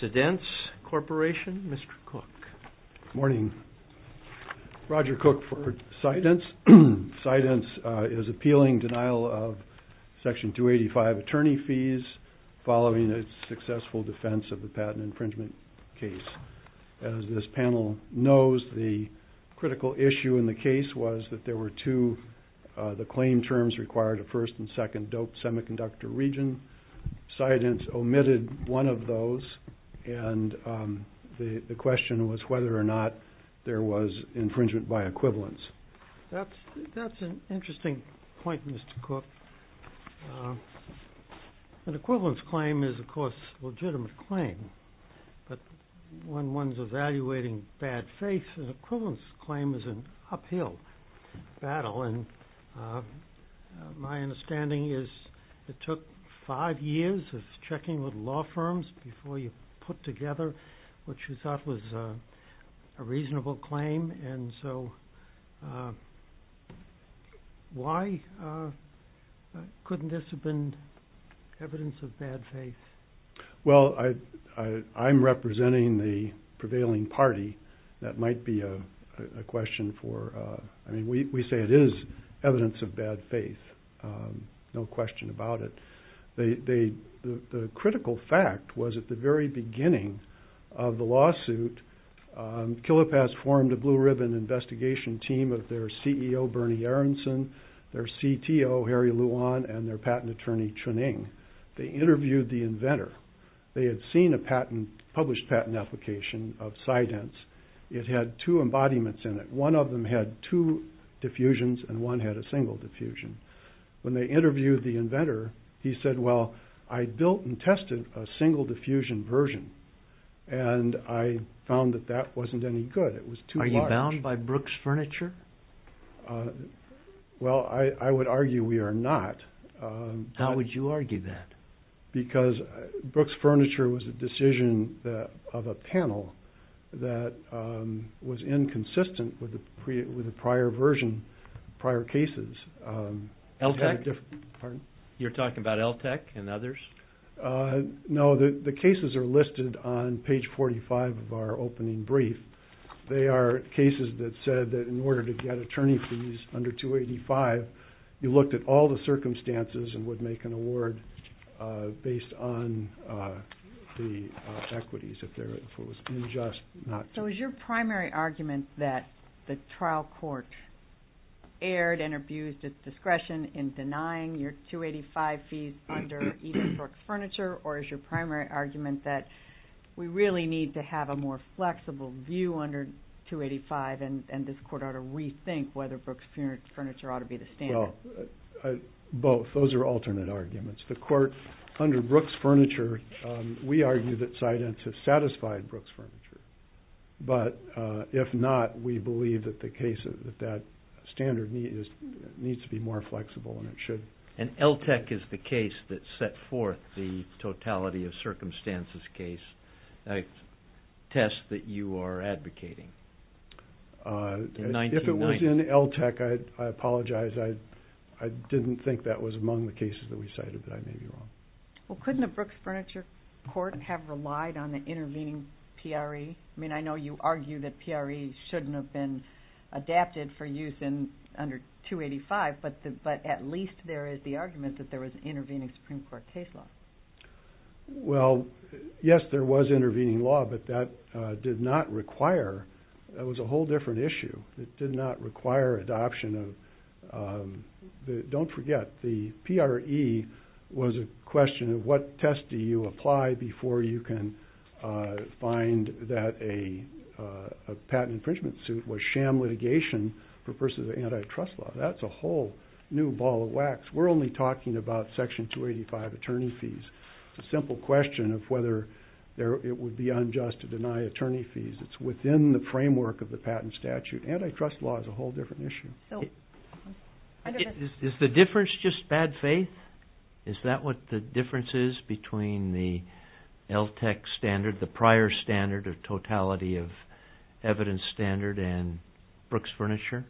SIDENSE CORPORATION, MR. COOK. Morning. Roger Cook for SIDENSE. SIDENSE is appealing denial of Section 285 attorney fees following a successful defense of the patent infringement case. As this panel knows, the critical issue in the case was that there were two, the claim terms required a first and second dope semiconductor region. SIDENSE omitted one of those and the question was whether or not there was infringement by equivalence. That's an interesting point, Mr. Cook. An equivalence claim is of course a legitimate claim, but when one's evaluating bad faith, an equivalence claim is an uphill battle and my took five years of checking with law firms before you put together what you thought was a reasonable claim and so why couldn't this have been evidence of bad faith? Well, I'm representing the prevailing party. That might be a question for, I mean we say it is evidence of bad faith, no question about it. The critical fact was at the very beginning of the lawsuit, KILIPAS formed a blue-ribbon investigation team of their CEO Bernie Aronson, their CTO Harry Luan, and their patent attorney Chun-Ing. They interviewed the inventor. They had seen a patent, published patent application of SIDENSE. It had two embodiments in it. One of them had two diffusions and one had a single diffusion. When they interviewed the inventor, he said, well, I built and tested a single diffusion version and I found that that wasn't any good. It was too large. Are you bound by Brooks Furniture? Well, I would argue we are not. How would you argue that? Because Brooks Furniture was a decision of a panel that was inconsistent with the prior version, prior cases. LTCH? You're talking about LTCH and others? No, the cases are listed on page 45 of our opening brief. They are cases that said that in order to get attorney fees under 285, you looked at all the equities. So is your primary argument that the trial court erred and abused its discretion in denying your 285 fees under either Brooks Furniture or is your primary argument that we really need to have a more flexible view under 285 and this court ought to rethink whether Brooks Furniture ought to be the standard? Both. Those are alternate arguments. The court under Brooks Furniture, we argue that SciDents have satisfied Brooks Furniture, but if not, we believe that the case of that standard needs to be more flexible and it should. And LTCH is the case that set forth the totality of circumstances case test that you are I didn't think that was among the cases that we cited that I may be wrong. Well couldn't a Brooks Furniture court have relied on the intervening PRE? I mean I know you argue that PRE shouldn't have been adapted for use in under 285, but at least there is the argument that there was an intervening Supreme Court case law. Well, yes there was intervening law, but that did not require, that was a whole different issue. It did not require adoption of, don't forget the PRE was a question of what test do you apply before you can find that a patent infringement suit was sham litigation for persons of antitrust law. That's a whole new ball of wax. We're only talking about section 285 attorney fees. It's a simple question of whether it would be unjust to deny attorney fees. It's within the framework of the patent statute. Antitrust law is a whole different issue. Is the difference just bad faith? Is that what the difference is between the LTCH standard, the prior standard of totality of evidence standard and Brooks Furniture?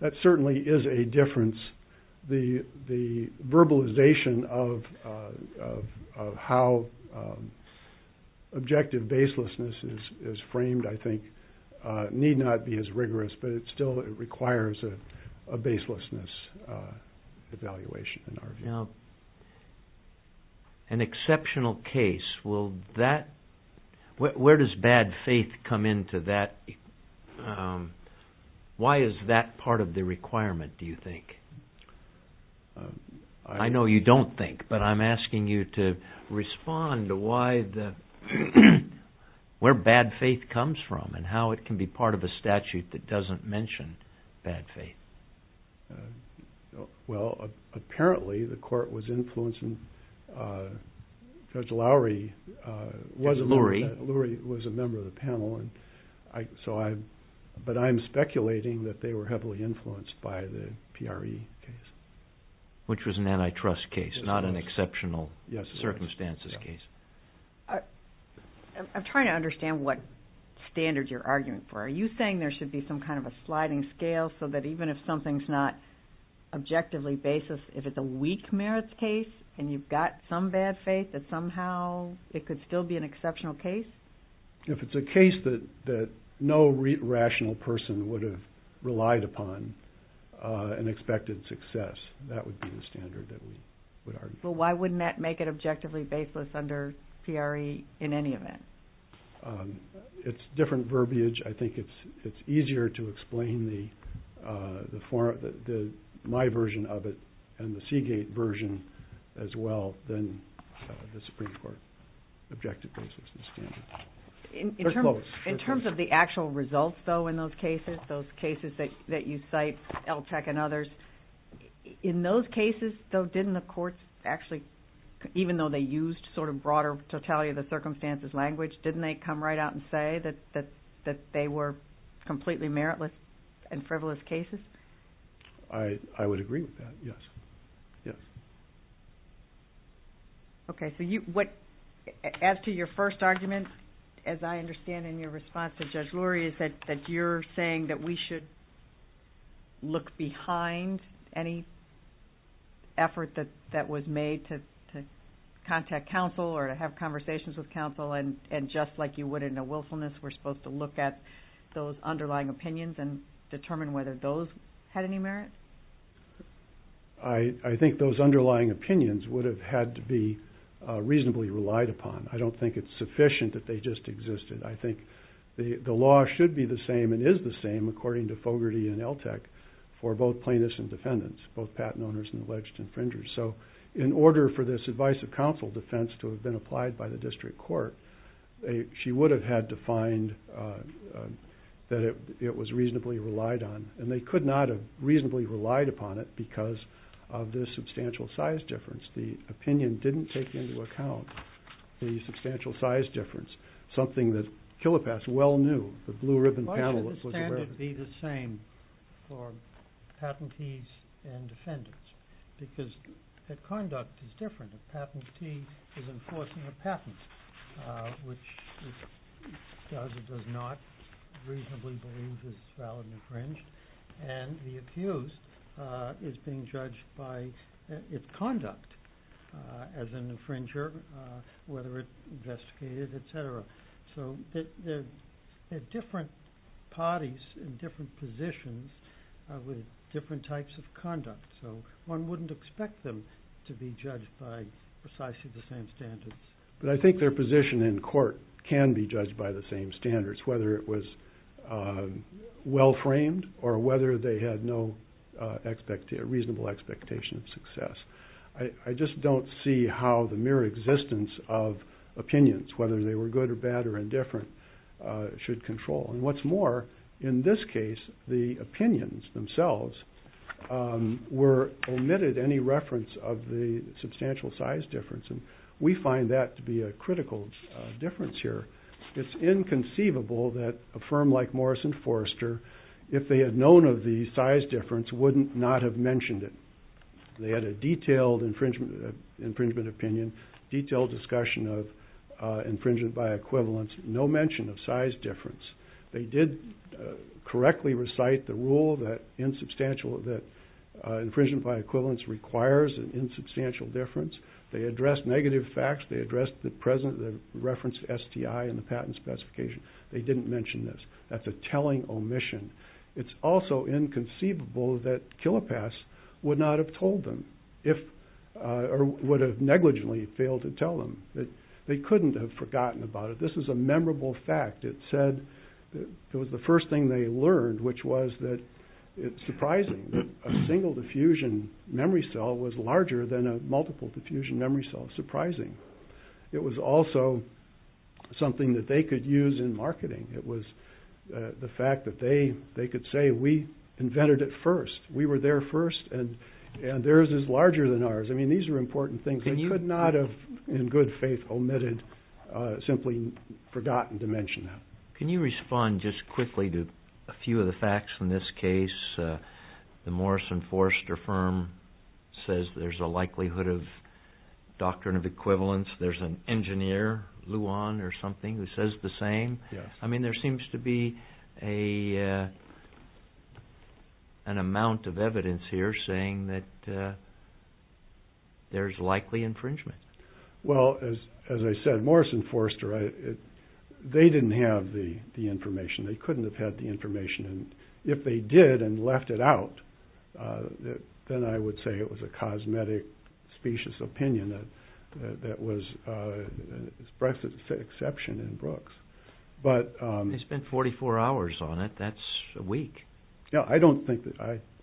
That certainly is a difference. The need not be as rigorous, but it still requires a baselessness evaluation in our view. Now, an exceptional case, will that, where does bad faith come into that? Why is that part of the requirement do you think? I know you don't think, but I'm curious on how it can be part of a statute that doesn't mention bad faith. Well, apparently the court was influencing, Judge Lowry, Lurie was a member of the panel, but I'm speculating that they were heavily influenced by the PRE case. Which was an antitrust case, not an exceptional circumstances case. I'm trying to understand what standard you're arguing for. Are you saying there should be some kind of a sliding scale so that even if something's not objectively baseless, if it's a weak merits case and you've got some bad faith that somehow it could still be an exceptional case? If it's a case that no rational person would have relied upon and expected success, that would be the standard that we would argue. Well, why wouldn't that make it objectively baseless under PRE in any event? It's different verbiage. I think it's easier to explain my version of it and the Seagate version as well than the Supreme Court objective basis. In terms of the actual results though in those cases, those cases that you cite, LTCH and others, in those cases though didn't the courts actually, even though they used sort of broader totality of the circumstances language, didn't they come right out and say that they were completely meritless and frivolous cases? I would agree with that, yes. Okay. As to your first argument, as I understand in your response to Judge Lurie, is that you're saying that we should look behind any effort that was made to contact counsel or to have conversations with counsel and just like you would in a willfulness, we're supposed to look at those underlying opinions and determine whether those had any merit? I think those underlying opinions would have had to be reasonably relied upon. I don't think it's sufficient that they just existed. I think the law should be the plaintiffs and defendants, both patent owners and alleged infringers. So in order for this advice of counsel defense to have been applied by the district court, she would have had to find that it was reasonably relied on and they could not have reasonably relied upon it because of this substantial size difference. The opinion didn't take into account the substantial size difference, something that Killepass well knew, the blue ribbon panel. Why should the standard be the same for patentees and defendants? Because the conduct is different. A patentee is enforcing a patent, which does or does not reasonably believe is valid and infringed. And the accused is being judged by its conduct as an infringer. So they're different parties in different positions with different types of conduct. So one wouldn't expect them to be judged by precisely the same standards. But I think their position in court can be judged by the same standards, whether it was well-framed or whether they had no reasonable expectation of success. I just don't see how the mere existence of opinions, whether they were good or bad or indifferent, should control. And what's more, in this case the opinions themselves were omitted any reference of the substantial size difference and we find that to be a critical difference here. It's inconceivable that a firm like Morris and Forrester, if they had known of the size difference, wouldn't not have mentioned it. They had a detailed infringement opinion, detailed discussion of infringement by equivalence, no mention of size difference. They did correctly recite the rule that infringement by equivalence requires an insubstantial difference. They addressed negative facts, they addressed the present reference STI and the patent specification. They didn't mention this. That's a telling omission. It's also inconceivable that Killepass would not have told them, or would have negligently failed to tell them, that they couldn't have forgotten about it. This is a memorable fact. It said that it was the first thing they learned, which was that it's surprising that a single diffusion memory cell was larger than a multiple diffusion memory cell. Surprising. It was also something that they could use in marketing. It was the fact that they could say, we invented it first. We were there first, and theirs is larger than ours. I mean, these are important things. They could not have, in good faith, omitted, simply forgotten to mention that. Can you respond just quickly to a few of the facts in this case? The Morris and Forrester firm says there's a likelihood of doctrine of equivalence. There's an engineer, Luan or something, who says the an amount of evidence here saying that there's likely infringement. Well, as I said, Morris and Forrester, they didn't have the information. They couldn't have had the information, and if they did and left it out, then I would say it was a cosmetic, specious opinion that was an exception in Brooks. They spent 44 hours on it. That's a week. Yeah, I don't think that,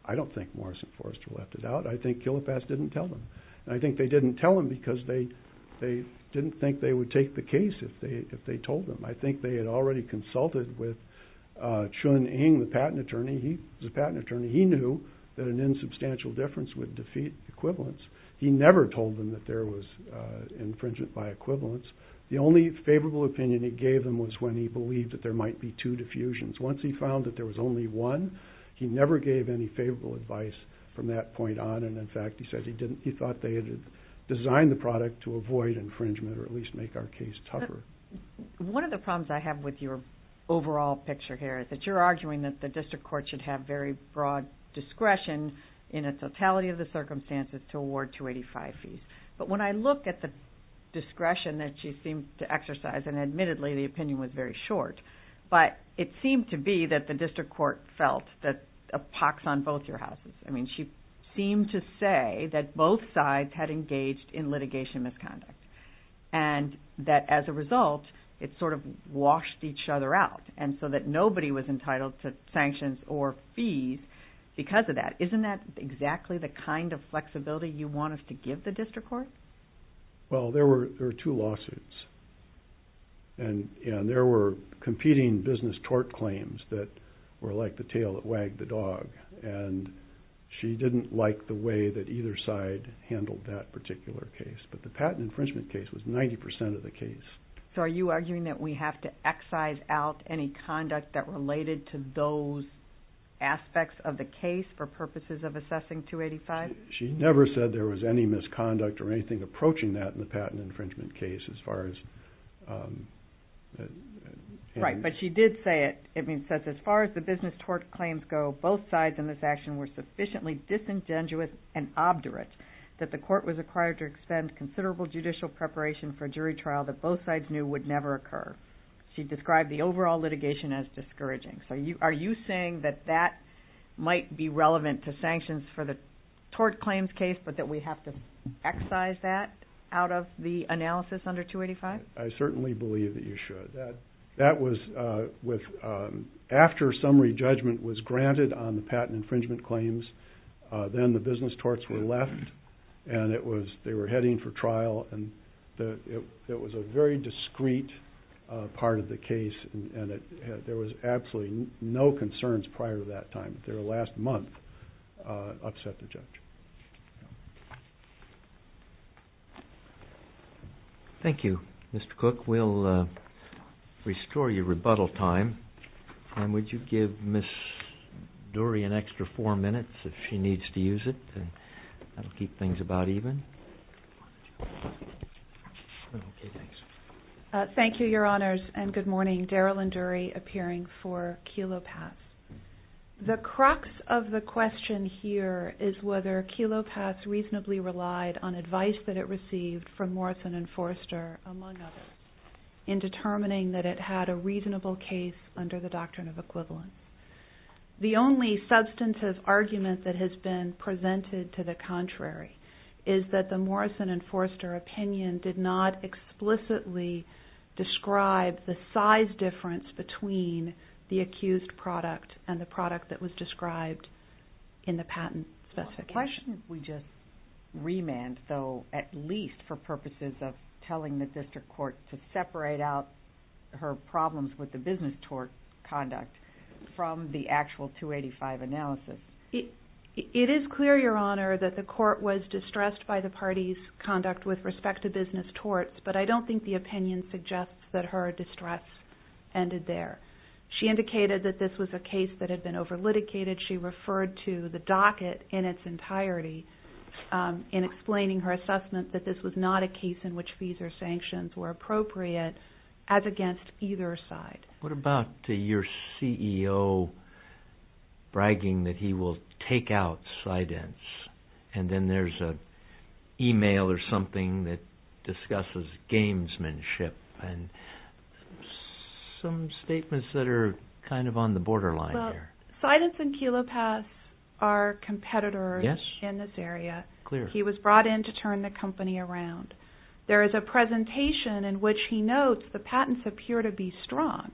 I don't think Morris and Forrester left it out. I think Kilopass didn't tell them. I think they didn't tell them because they didn't think they would take the case if they told them. I think they had already consulted with Chun Ng, the patent attorney. He was a patent attorney. He knew that an insubstantial difference would defeat equivalence. He never told them that there was infringement by equivalence. The only favorable opinion he gave them was when he believed that there might be two diffusions. Once he found that there was only one, he never gave any favorable advice from that point on, and in fact, he said he didn't, he thought they had designed the product to avoid infringement or at least make our case tougher. One of the problems I have with your overall picture here is that you're arguing that the district court should have very broad discretion in a totality of the circumstances to award 285 fees, but when I look at the discretion that she seemed to exercise, and admittedly the opinion was very short, but it seemed to be that the district court felt that a pox on both your houses. I mean, she seemed to say that both sides had engaged in litigation misconduct, and that as a result, it sort of washed each other out, and so that nobody was entitled to sanctions or fees because of that. Isn't that exactly the kind of flexibility you want us to give the district court? Well, there were two lawsuits, and there were competing business tort claims that were like the tail that wagged the dog, and she didn't like the way that either side handled that particular case, but the patent infringement case was 90% of the case. So are you arguing that we have to excise out any conduct that related to those aspects of the case for purposes of assessing 285? She never said there was any misconduct or anything approaching that in the patent infringement case as far as... Right, but she did say it. It says, as far as the business tort claims go, both sides in this action were sufficiently disingenuous and obdurate that the court was required to extend considerable judicial preparation for a jury trial that both sides knew would never occur. She described the overall litigation as discouraging. So are you saying that that might be relevant to excise that out of the analysis under 285? I certainly believe that you should. That was with... after summary judgment was granted on the patent infringement claims, then the business torts were left, and it was... they were heading for trial, and it was a very discreet part of the case, and there was absolutely no concerns prior to that time. Their last month upset the judge. Thank you. Mr. Cook, we'll restore your rebuttal time, and would you give Miss Dury an extra four minutes if she needs to use it? That'll keep things about even. Thank you, Your Honor. The crux of the question here is whether Kelo Pass reasonably relied on advice that it received from Morrison and Forster, among others, in determining that it had a reasonable case under the doctrine of equivalence. The only substantive argument that has been presented to the contrary is that the Morrison and Forster opinion did not explicitly describe the size difference between the accused product and the product that was described in the patent specification. Why shouldn't we just remand, though, at least for purposes of telling the district court to separate out her problems with the business tort conduct from the actual 285 analysis? It is clear, Your Honor, that the court was distressed by the party's conduct with respect to business torts, but I don't think the She indicated that this was a case that had been over-litigated. She referred to the docket in its entirety in explaining her assessment that this was not a case in which fees or sanctions were appropriate, as against either side. What about your CEO bragging that he will take out Sydence, and then there's a something that discusses gamesmanship, and some statements that are kind of on the borderline. Sydence and Kilopass are competitors in this area. He was brought in to turn the company around. There is a presentation in which he notes the patents appear to be strong.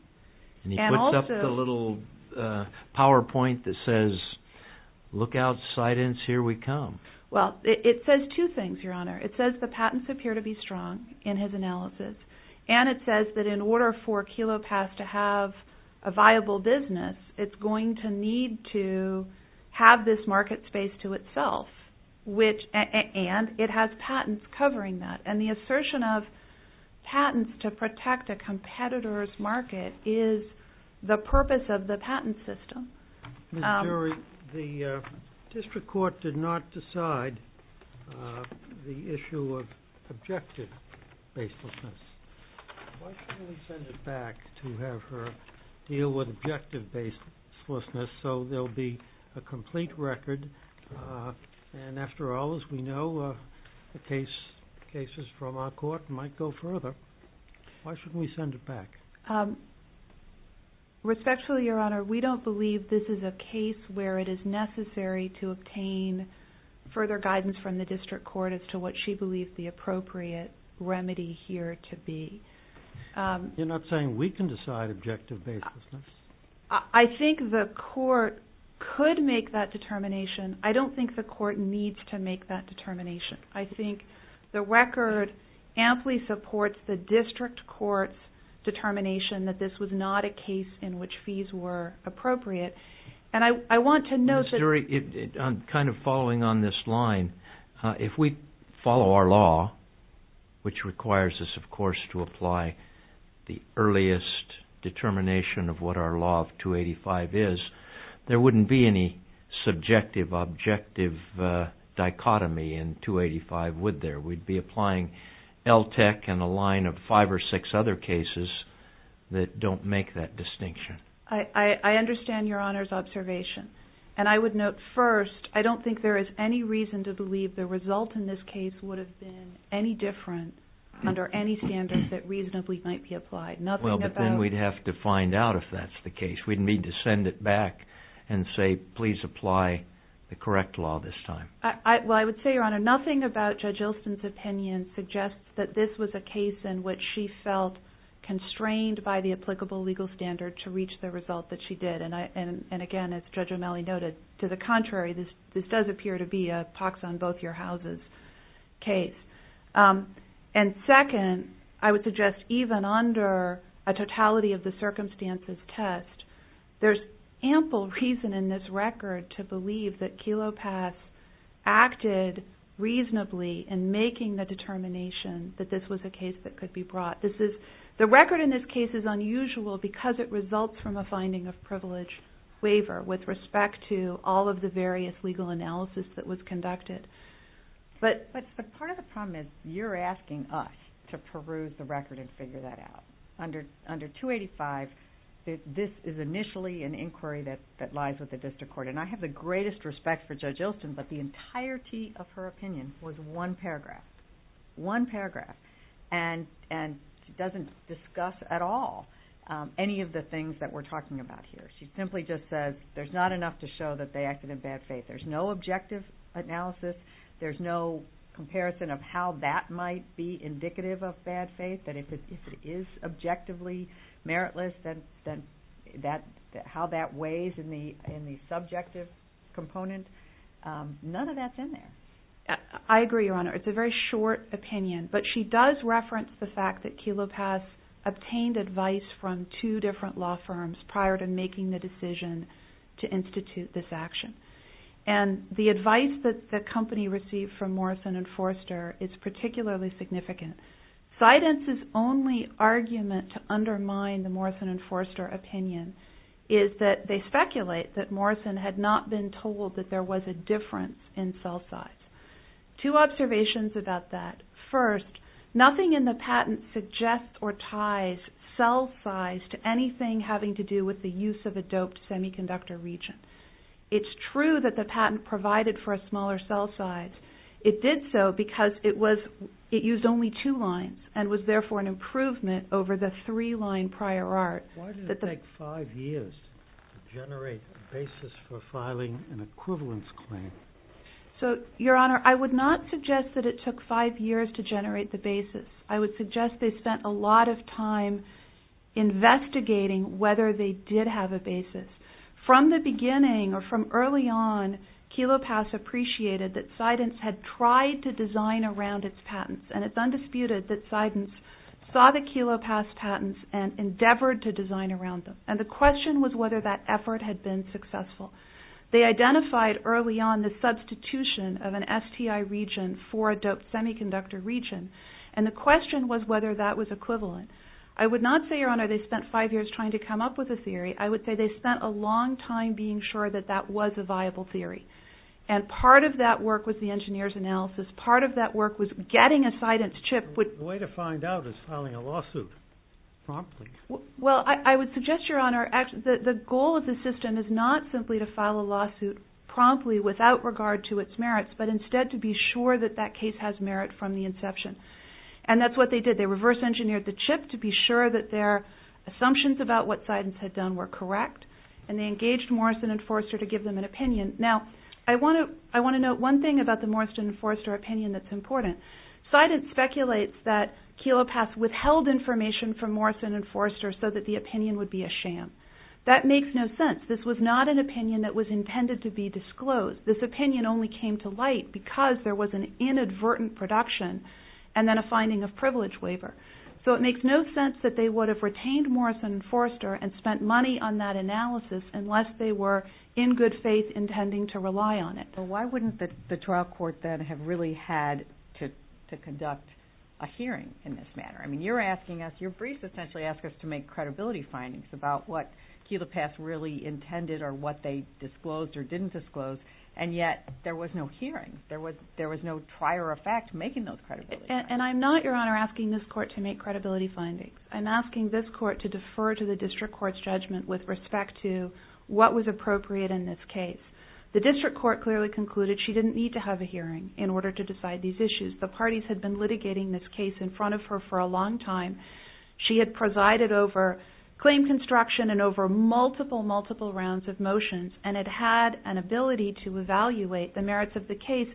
He puts up a little PowerPoint that says, Look out, Sydence, here we come. Well, it says two things, Your Honor. It says the patents appear to be strong in his analysis, and it says that in order for Kilopass to have a viable business, it's going to need to have this market space to itself, and it has patents covering that. And the assertion of patents to District Court did not decide the issue of objective baselessness. Why shouldn't we send it back to have her deal with objective baselessness so there'll be a complete record, and after all, as we know, the cases from our court might go further. Why shouldn't we send it back? Respectfully, Your Honor, we don't believe this is a case where it is necessary to obtain further guidance from the District Court as to what she believes the appropriate remedy here to be. You're not saying we can decide objective baselessness? I think the court could make that determination. I don't think the court needs to make that determination. I think the record amply supports the District Court's determination that this was not a case. And I want to know... Ms. Dury, kind of following on this line, if we follow our law, which requires us, of course, to apply the earliest determination of what our law of 285 is, there wouldn't be any subjective objective dichotomy in 285, would there? We'd be applying LTEC and a line of five or six other cases that don't make that distinction. I understand Your Honor's observation. And I would note first, I don't think there is any reason to believe the result in this case would have been any different under any standard that reasonably might be applied. Well, but then we'd have to find out if that's the case. We'd need to send it back and say, please apply the correct law this time. Well, I would say, Your Honor, nothing about Judge Ilsen's opinion suggests that this was a case in which she felt constrained by the applicable legal standard to reach the result that she did. And again, as Judge O'Malley noted, to the contrary, this does appear to be a pox on both your houses case. And second, I would suggest even under a totality of the circumstances test, there's ample reason in this record to believe that Kelo Pass acted reasonably in making the determination that this was a case that could be brought. The record in this case is unusual because it results from a finding of privilege waiver with respect to all of the various legal analysis that was conducted. But part of the problem is you're asking us to peruse the record and figure that out. Under 285, this is initially an inquiry that lies with the district court. And I have the greatest respect for Judge Ilsen, but the entirety of her opinion was one paragraph. One paragraph. And she doesn't discuss at all any of the things that we're talking about here. She simply just says there's not enough to show that they acted in bad faith. There's no objective analysis. There's no comparison of how that might be indicative of bad faith, that if it is objectively meritless, then how that weighs in the subjective component, none of that's in there. I agree, Your Honor. It's a very short opinion. But she does reference the fact that Kelo Pass obtained advice from two different law firms prior to making the decision to institute this action. And the advice that the company received from Morrison and Forster is particularly significant. Sidens' only argument to undermine the Morrison and Forster opinion is that they speculate that Morrison had not been told that there was a difference in cell size. Two observations about that. First, nothing in the patent suggests or ties cell size to anything having to do with the use of a doped semiconductor region. It's true that the patent provided for a smaller cell size. It did so because it used only two lines and was therefore an improvement over the three-line prior art. Why did it take five years to generate a basis for filing an equivalence claim? Your Honor, I would not suggest that it took five years to generate the basis. I would suggest they spent a lot of time investigating whether they did have a basis. From the beginning or from early on, Kelo Pass appreciated that Sidens had tried to design around its patents. And it's undisputed that Sidens saw the Kelo Pass patents and endeavored to design around them. And the question was whether that effort had been successful. They identified early on the substitution of an STI region for a doped semiconductor region. And the question was whether that was equivalent. I would not say, Your Honor, they spent five years trying to come up with a theory. I would say they spent a long time being sure that that was a viable theory. And part of that work was the engineer's analysis. Part of that work was getting a Sidens chip. The way to find out is filing a lawsuit promptly. Well, I would suggest, Your Honor, that the goal of the system is not simply to file a lawsuit promptly without regard to its merits, but instead to be sure that that case has merit from the inception. And that's what they did. They reverse engineered the chip to be sure that their assumptions about what Sidens had done were correct. And they engaged Morrison and Forrester to give them an opinion. Now, I want to note one thing about the Morrison and Forrester opinion that's important. Sidens speculates that Kelo Pass withheld information from Morrison and Forrester so that the opinion would be a sham. That makes no sense. This was not an opinion that was intended to be disclosed. This opinion only came to light because there was an inadvertent production and then a finding of privilege waiver. So it makes no sense that they would have retained Morrison and Forrester and spent money on that analysis unless they were in good faith intending to rely on it. Well, why wouldn't the trial court then have really had to conduct a hearing in this manner? I mean, you're asking us, your briefs essentially ask us to make credibility findings about what Kelo Pass really intended or what they disclosed or didn't disclose. And yet, there was no hearing. There was no trier of fact making those credibility findings. And I'm not, your honor, asking this court to make credibility findings. I'm asking this court to defer to the district court's judgment with respect to what was appropriate in this case. The district court clearly concluded she didn't need to have a hearing in order to decide these issues. The parties had been litigating this case in front of her for a long time. She had presided over claim construction and over multiple, multiple rounds of motions. And it had an ability to evaluate the merits of the case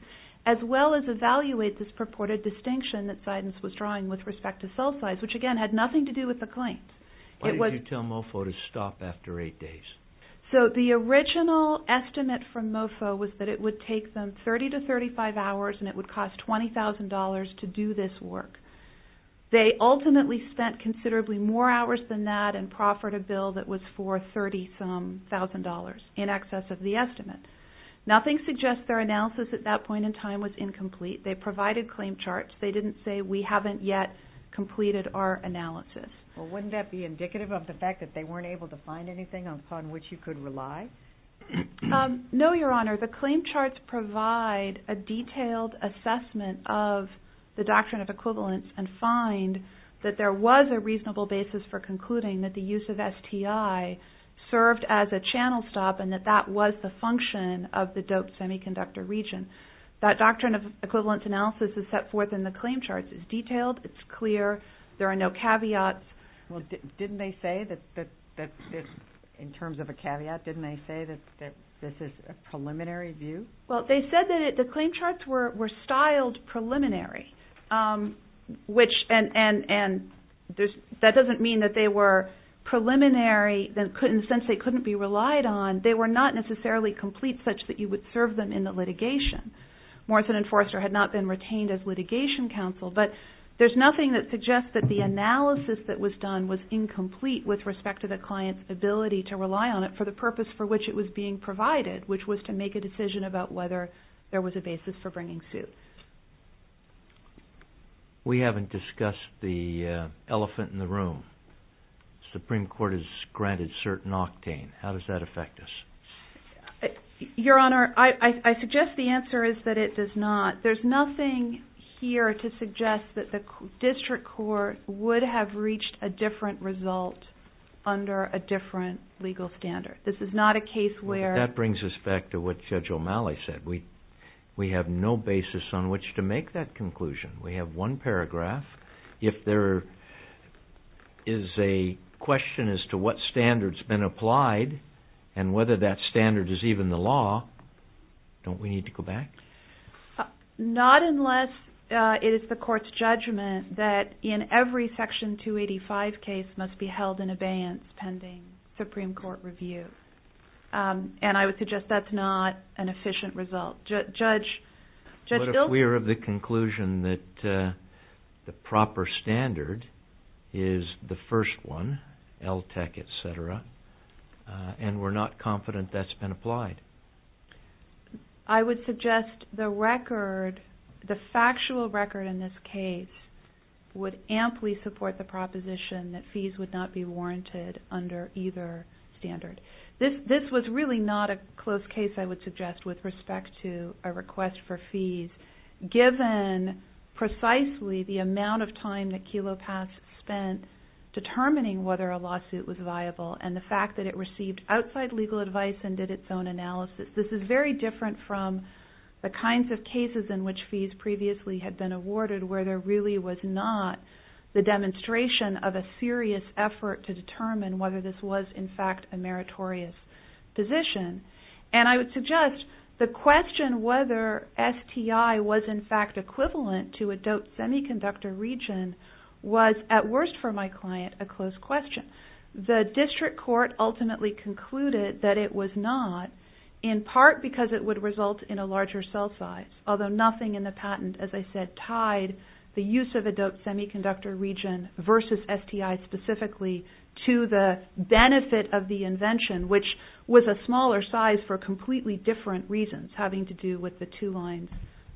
as well as evaluate this purported distinction that Zidins was drawing with respect to cell size, which again had nothing to do with the claims. Why did you tell MOFO to stop after eight days? So the original estimate from MOFO was that it would take them 30 to 35 hours and it would cost $20,000 to do this work. They ultimately spent considerably more hours than that and proffered a bill that was for $30,000 in excess of the estimate. Nothing suggests their analysis at that point in time was incomplete. They provided claim charts. They didn't say we haven't yet completed our analysis. Well, wouldn't that be indicative of the fact that they weren't able to find anything upon which you could rely? No, Your Honor. The claim charts provide a detailed assessment of the doctrine of equivalence and find that there was a reasonable basis for concluding that the use of STI served as a channel stop and that that was the function of the doped semiconductor region. That doctrine of equivalence analysis is set forth in the claim charts. It's detailed. It's clear. There are no caveats. Well, didn't they say that, in terms of a caveat, didn't they say that this is a preliminary view? Well, they said that the claim charts were styled preliminary. That doesn't mean that they were preliminary in the sense that they couldn't be relied on. They were not necessarily complete such that you would serve them in the litigation. Morrison and Forrester had not been retained as litigation counsel, but there's nothing that suggests that the analysis that was done was incomplete with respect to the client's ability to rely on it for the purpose for which it was being provided, which was to make a decision about whether there was a basis for bringing suit. We haven't discussed the elephant in the room. The Supreme Court has granted certain octane. How does that affect us? Your Honor, I suggest the answer is that it does not. There's nothing here to suggest that the district court would have reached a different result under a different legal standard. This is not a case where... That brings us back to what Judge O'Malley said. We have no basis on which to make that conclusion. We have one paragraph. If there is a question as to what standard's been applied and whether that standard is even the law, don't we need to go back? Not unless it is the court's judgment that in every Section 285 case must be held in abeyance pending Supreme Court review. And I would suggest that's not an efficient result. What if we are of the conclusion that the proper standard is the first one, LTCH, etc., and we're not confident that's been applied? I would suggest the factual record in this case would amply support the proposition that fees would not be warranted under either standard. This was really not a close case, I would suggest, with respect to a request for fees, given precisely the amount of time that Kelo Pass spent determining whether a lawsuit was viable and the fact that it received outside legal advice and did its own analysis. This is very different from the kinds of cases in which fees previously had been awarded where there really was not the demonstration of a serious effort to determine whether this was, in fact, a meritorious position. And I would suggest the question whether STI was, in fact, equivalent to adult semiconductor region was, at worst for my client, a close question. The district court ultimately concluded that it was not, in part because it would result in a larger cell size, although nothing in the patent, as I said, tied the use of adult semiconductor region versus STI specifically to the benefit of the invention, which was a smaller size for completely different reasons, having to do with the two lines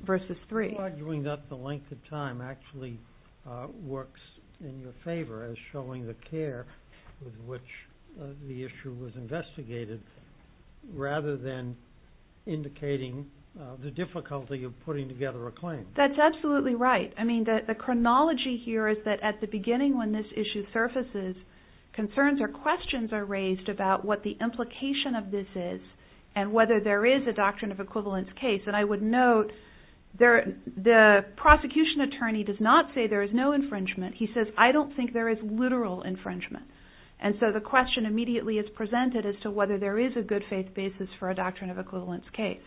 versus three. I think arguing that the length of time actually works in your favor as showing the care with which the issue was investigated rather than indicating the difficulty of putting together a claim. That's absolutely right. I mean, the chronology here is that at the beginning when this issue surfaces, concerns or questions are raised about what the implication of this is and whether there is a doctrine of equivalence case. And I would note the prosecution attorney does not say there is no infringement. He says, I don't think there is literal infringement. And so the question immediately is presented as to whether there is a good faith basis for a doctrine of equivalence case.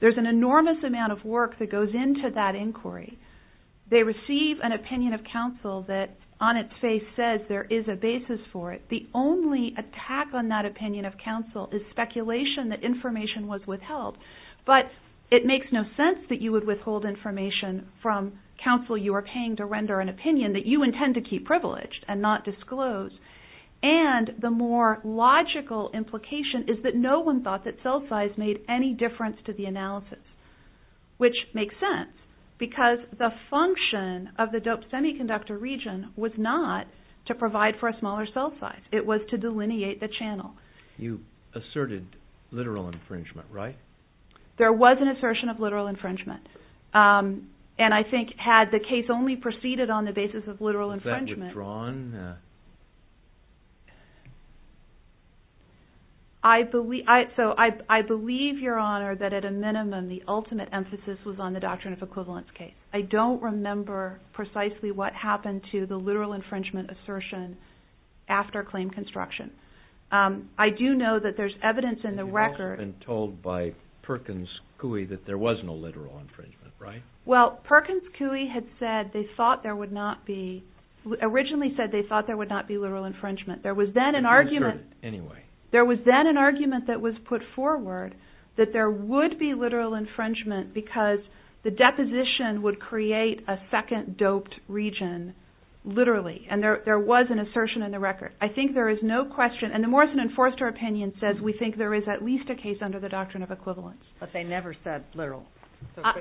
There's an enormous amount of work that goes into that inquiry. They receive an opinion of counsel that on its face says there is a basis for it. The only attack on that opinion of counsel is speculation that information was withheld. But it makes no sense that you would withhold information from counsel you are paying to render an opinion that you intend to keep privileged and not disclose. And the more logical implication is that no one thought that cell size made any difference to the analysis, which makes sense because the function of the DOPE semiconductor region was not to provide for a smaller cell size. It was to delineate the channel. You asserted literal infringement, right? There was an assertion of literal infringement. And I think had the case only proceeded on the basis of literal infringement. Was that withdrawn? I believe your honor that at a minimum the ultimate emphasis was on the doctrine of equivalence case. I don't remember precisely what happened to the literal infringement assertion after claim construction. I do know that there's evidence in the record. And you've also been told by Perkins Cooey that there was no literal infringement, right? Well, Perkins Cooey had said they thought there would not be, originally said they thought there would not be literal infringement. You asserted it anyway. There was then an argument that was put forward that there would be literal infringement because the deposition would create a second DOPE region literally. And there was an assertion in the record. I think there is no question and the Morrison and Forster opinion says we think there is at least a case under the doctrine of equivalence. But they never said literal.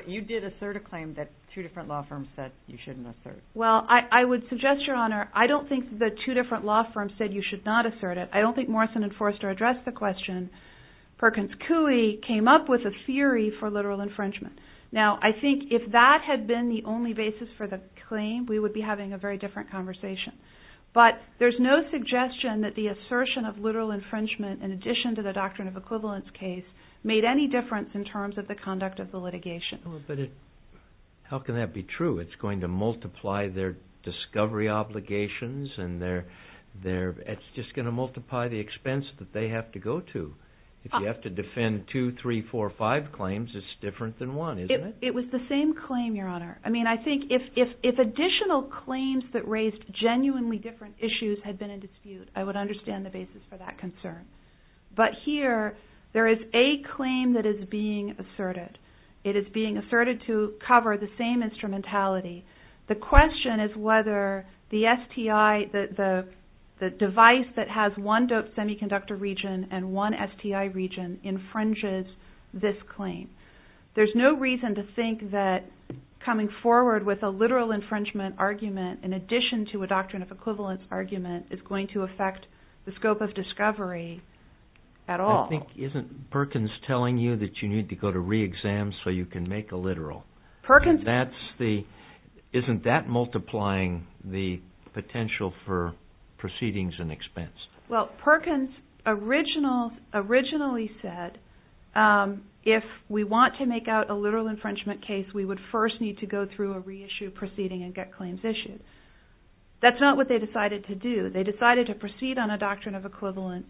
You did assert a claim that two different law firms said you shouldn't assert. Well, I would suggest, your honor, I don't think the two different law firms said you should not assert it. I don't think Morrison and Forster addressed the question. Perkins Cooey came up with a theory for literal infringement. Now, I think if that had been the only basis for the claim, we would be having a very different conversation. But there's no suggestion that the assertion of literal infringement in addition to the doctrine of equivalence case made any difference in terms of the conduct of the litigation. But how can that be true? It's going to multiply their discovery obligations and it's just going to multiply the expense that they have to go to. If you have to defend two, three, four, five claims, it's different than one, isn't it? It was the same claim, your honor. I mean, I think if additional claims that raised genuinely different issues had been in dispute, I would understand the basis for that concern. But here, there is a claim that is being asserted. It is being asserted to cover the same instrumentality. The question is whether the device that has one doped semiconductor region and one STI region infringes this claim. There's no reason to think that coming forward with a literal infringement argument in addition to a doctrine of equivalence argument is going to affect the scope of discovery at all. I think, isn't Perkins telling you that you need to go to re-exam so you can make a literal? Isn't that multiplying the potential for proceedings and expense? Well, Perkins originally said if we want to make out a literal infringement case, we would first need to go through a re-issue proceeding and get claims issued. That's not what they decided to do. They decided to proceed on a doctrine of equivalence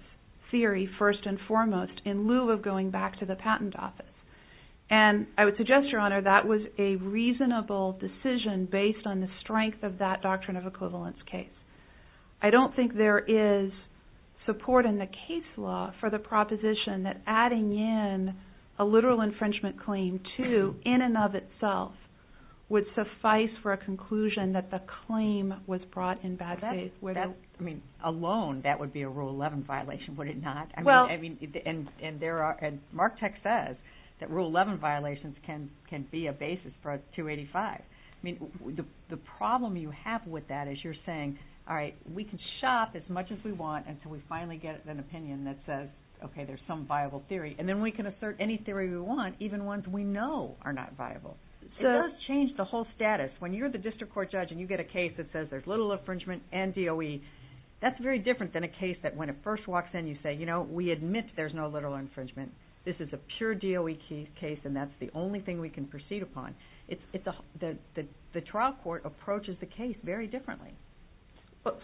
theory first and foremost in lieu of going back to the patent office. I would suggest, Your Honor, that was a reasonable decision based on the strength of that doctrine of equivalence case. I don't think there is support in the case law for the proposition that adding in a literal infringement claim to, in and of itself, would suffice for a conclusion that the claim was brought in bad faith. I mean, alone, that would be a Rule 11 violation, would it not? And Mark Tech says that Rule 11 violations can be a basis for a 285. I mean, the problem you have with that is you're saying, all right, we can shop as much as we want until we finally get an opinion that says, okay, there's some viable theory. And then we can assert any theory we want, even ones we know are not viable. It does change the whole status. When you're the district court judge and you get a case that says there's literal infringement and DOE, that's very different than a case that when it first walks in you say, you know, we admit there's no literal infringement. This is a pure DOE case and that's the only thing we can proceed upon. The trial court approaches the case very differently.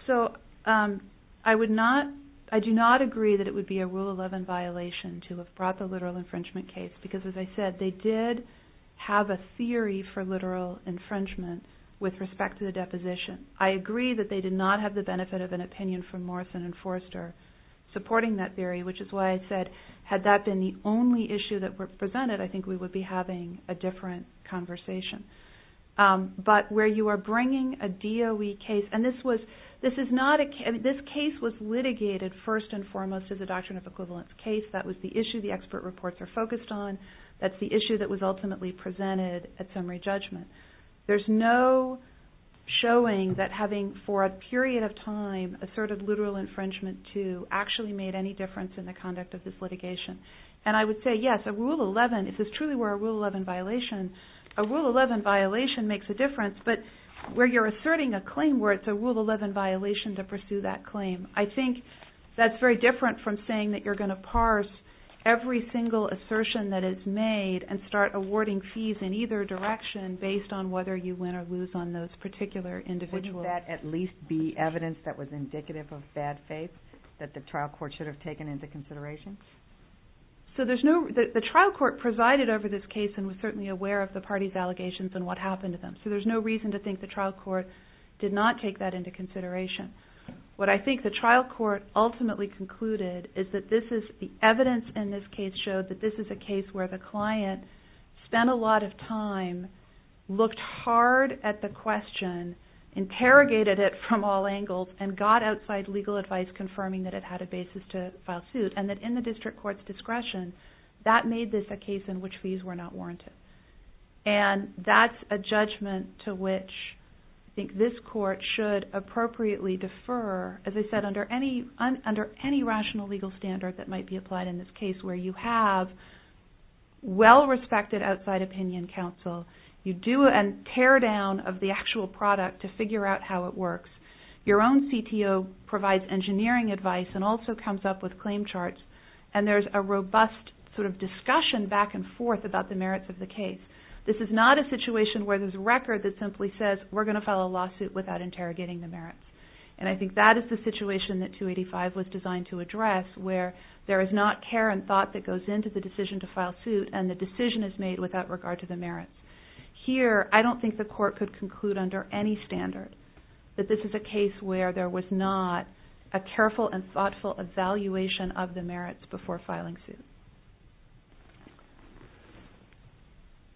So I do not agree that it would be a Rule 11 violation to have brought the literal infringement case because, as I said, they did have a theory for literal infringement with respect to the deposition. I agree that they did not have the benefit of an opinion from Morrison and Forster supporting that theory, which is why I said, had that been the only issue that were presented, I think we would be having a different conversation. But where you are bringing a DOE case, and this case was litigated first and foremost as a doctrine of equivalence case. That was the issue the expert reports are focused on. That's the issue that was ultimately presented at summary judgment. There's no showing that having for a period of time asserted literal infringement to actually made any difference in the conduct of this litigation. And I would say, yes, a Rule 11, if this truly were a Rule 11 violation, a Rule 11 violation makes a difference, but where you're asserting a claim where it's a Rule 11 violation to pursue that claim. I think that's very different from saying that you're going to parse every single assertion that is made and start awarding fees in either direction based on whether you win or lose on those particular individuals. Would that at least be evidence that was indicative of bad faith that the trial court should have taken into consideration? The trial court presided over this case and was certainly aware of the parties allegations and what happened to them. So there's no reason to think the trial court did not take that into consideration. What I think the trial court ultimately concluded is that the evidence in this case showed that this is a case where the client spent a lot of time, looked hard at the question, interrogated it from all angles, and got outside legal advice confirming that it had a basis to file suit. And that in the district court's discretion, that made this a case in which fees were not warranted. And that's a judgment to which I think this court should appropriately defer, as I said, under any rational legal standard that might be applied in this case where you have well-respected outside opinion counsel. You do a teardown of the actual product to figure out how it works. Your own CTO provides engineering advice and also comes up with claim charts. And there's a robust sort of discussion back and forth about the merits of the case. This is not a situation where there's a record that simply says, we're going to file a lawsuit without interrogating the merits. And I think that is the situation that 285 was designed to address where there is not care and thought that goes into the decision to file suit and the decision is made without regard to the merits. Here, I don't think the court could conclude under any standard that this is a case where there was not a careful and thoughtful evaluation of the merits before filing suit.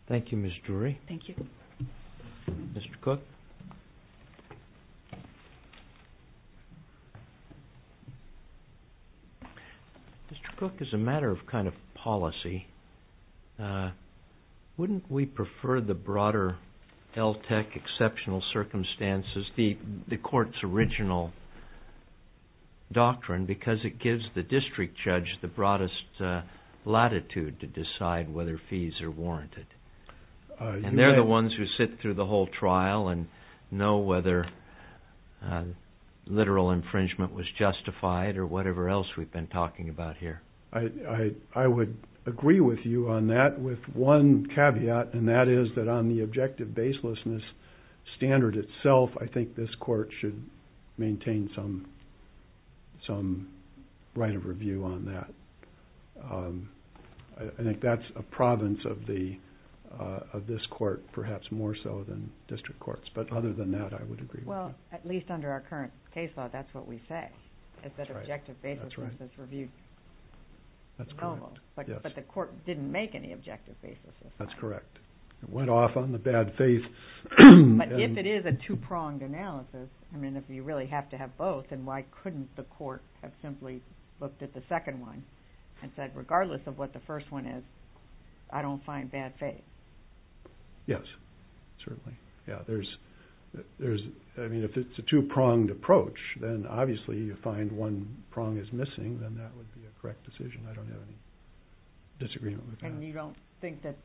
Thank you, Ms. Drury. Thank you. Mr. Cook. Mr. Cook, as a matter of kind of policy, wouldn't we prefer the broader LTCH exceptional circumstances, the court's original doctrine, because it gives the district judge the broadest latitude to decide whether fees are warranted? And they're the ones who sit through the whole trial and know whether literal infringement was justified or whatever else we've been talking about here. I would agree with you on that with one caveat, and that is that on the objective baselessness standard itself, I think this court should maintain some right of review on that. I think that's a province of this court, perhaps more so than district courts. But other than that, I would agree with you. Well, at least under our current case law, that's what we say, is that objective baselessness is reviewed. That's correct. But the court didn't make any objective baselessness. That's correct. It went off on the bad faith. But if it is a two-pronged analysis, I mean, if you really have to have both, then why couldn't the court have simply looked at the second one and said, regardless of what the first one is, I don't find bad faith? Yes, certainly. I mean, if it's a two-pronged approach, then obviously you find one prong is missing, then that would be a correct decision. I don't have any disagreement with that. And you don't think that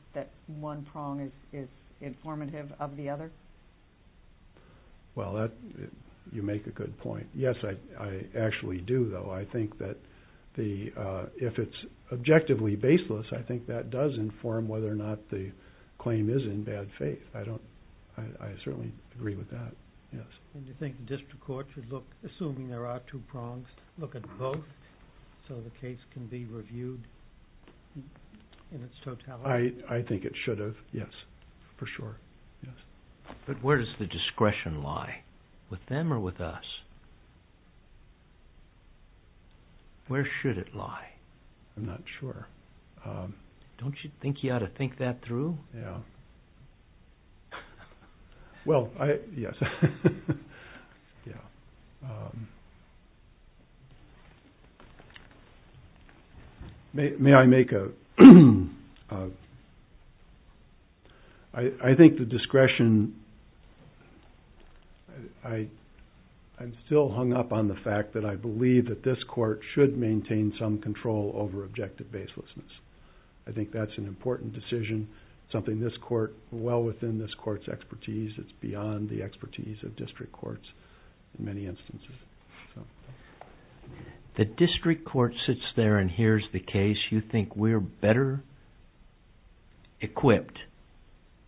one prong is informative of the other? Well, you make a good point. Yes, I actually do, though. I think that if it's objectively baseless, I think that does inform whether or not the claim is in bad faith. I certainly agree with that, yes. And you think the district court should look, assuming there are two prongs, look at both so the case can be reviewed in its totality? I think it should have, yes, for sure. But where does the discretion lie? With them or with us? Where should it lie? I'm not sure. Don't you think you ought to think that through? Well, yes. May I make a... I think the discretion... I'm still hung up on the fact that I believe that this court should maintain some control over objective baselessness. I think that's an important decision, something this court... well within this court's expertise. It's beyond the expertise of district courts in many instances. The district court sits there and hears the case. You think we're better equipped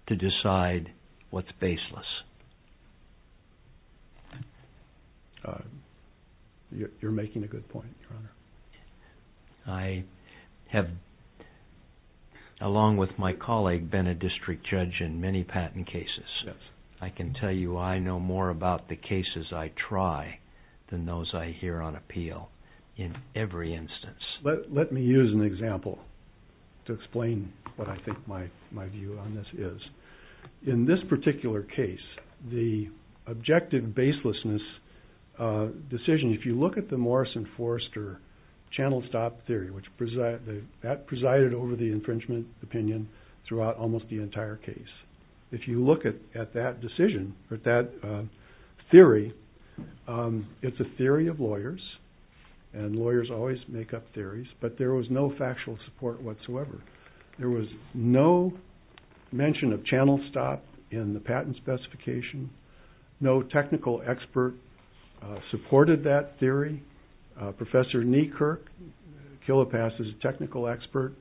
to decide what's baseless? You're making a good point, Your Honor. I have, along with my colleague, been a district judge in many patent cases. I can tell you I know more about the cases I try than those I hear on appeal in every instance. Let me use an example to explain what I think my view on this is. In this particular case, the objective baselessness decision, if you look at the Morrison-Forrester channel stop theory, that presided over the infringement opinion throughout almost the entire case. If you look at that decision, at that theory, it's a theory of lawyers, and lawyers always make up theories, but there was no factual support whatsoever. There was no mention of channel stop in the patent specification. No technical expert supported that theory. Professor Neekirk, Kilopass' technical expert,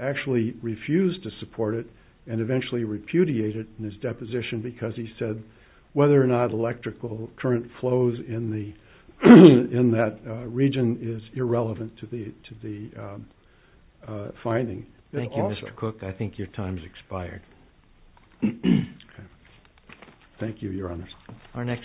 actually refused to support it and eventually repudiated it in his deposition because he said whether or not electrical current flows in that region is irrelevant to the finding. Thank you, Mr. Cook. I think your time has expired. Thank you, Your Honors.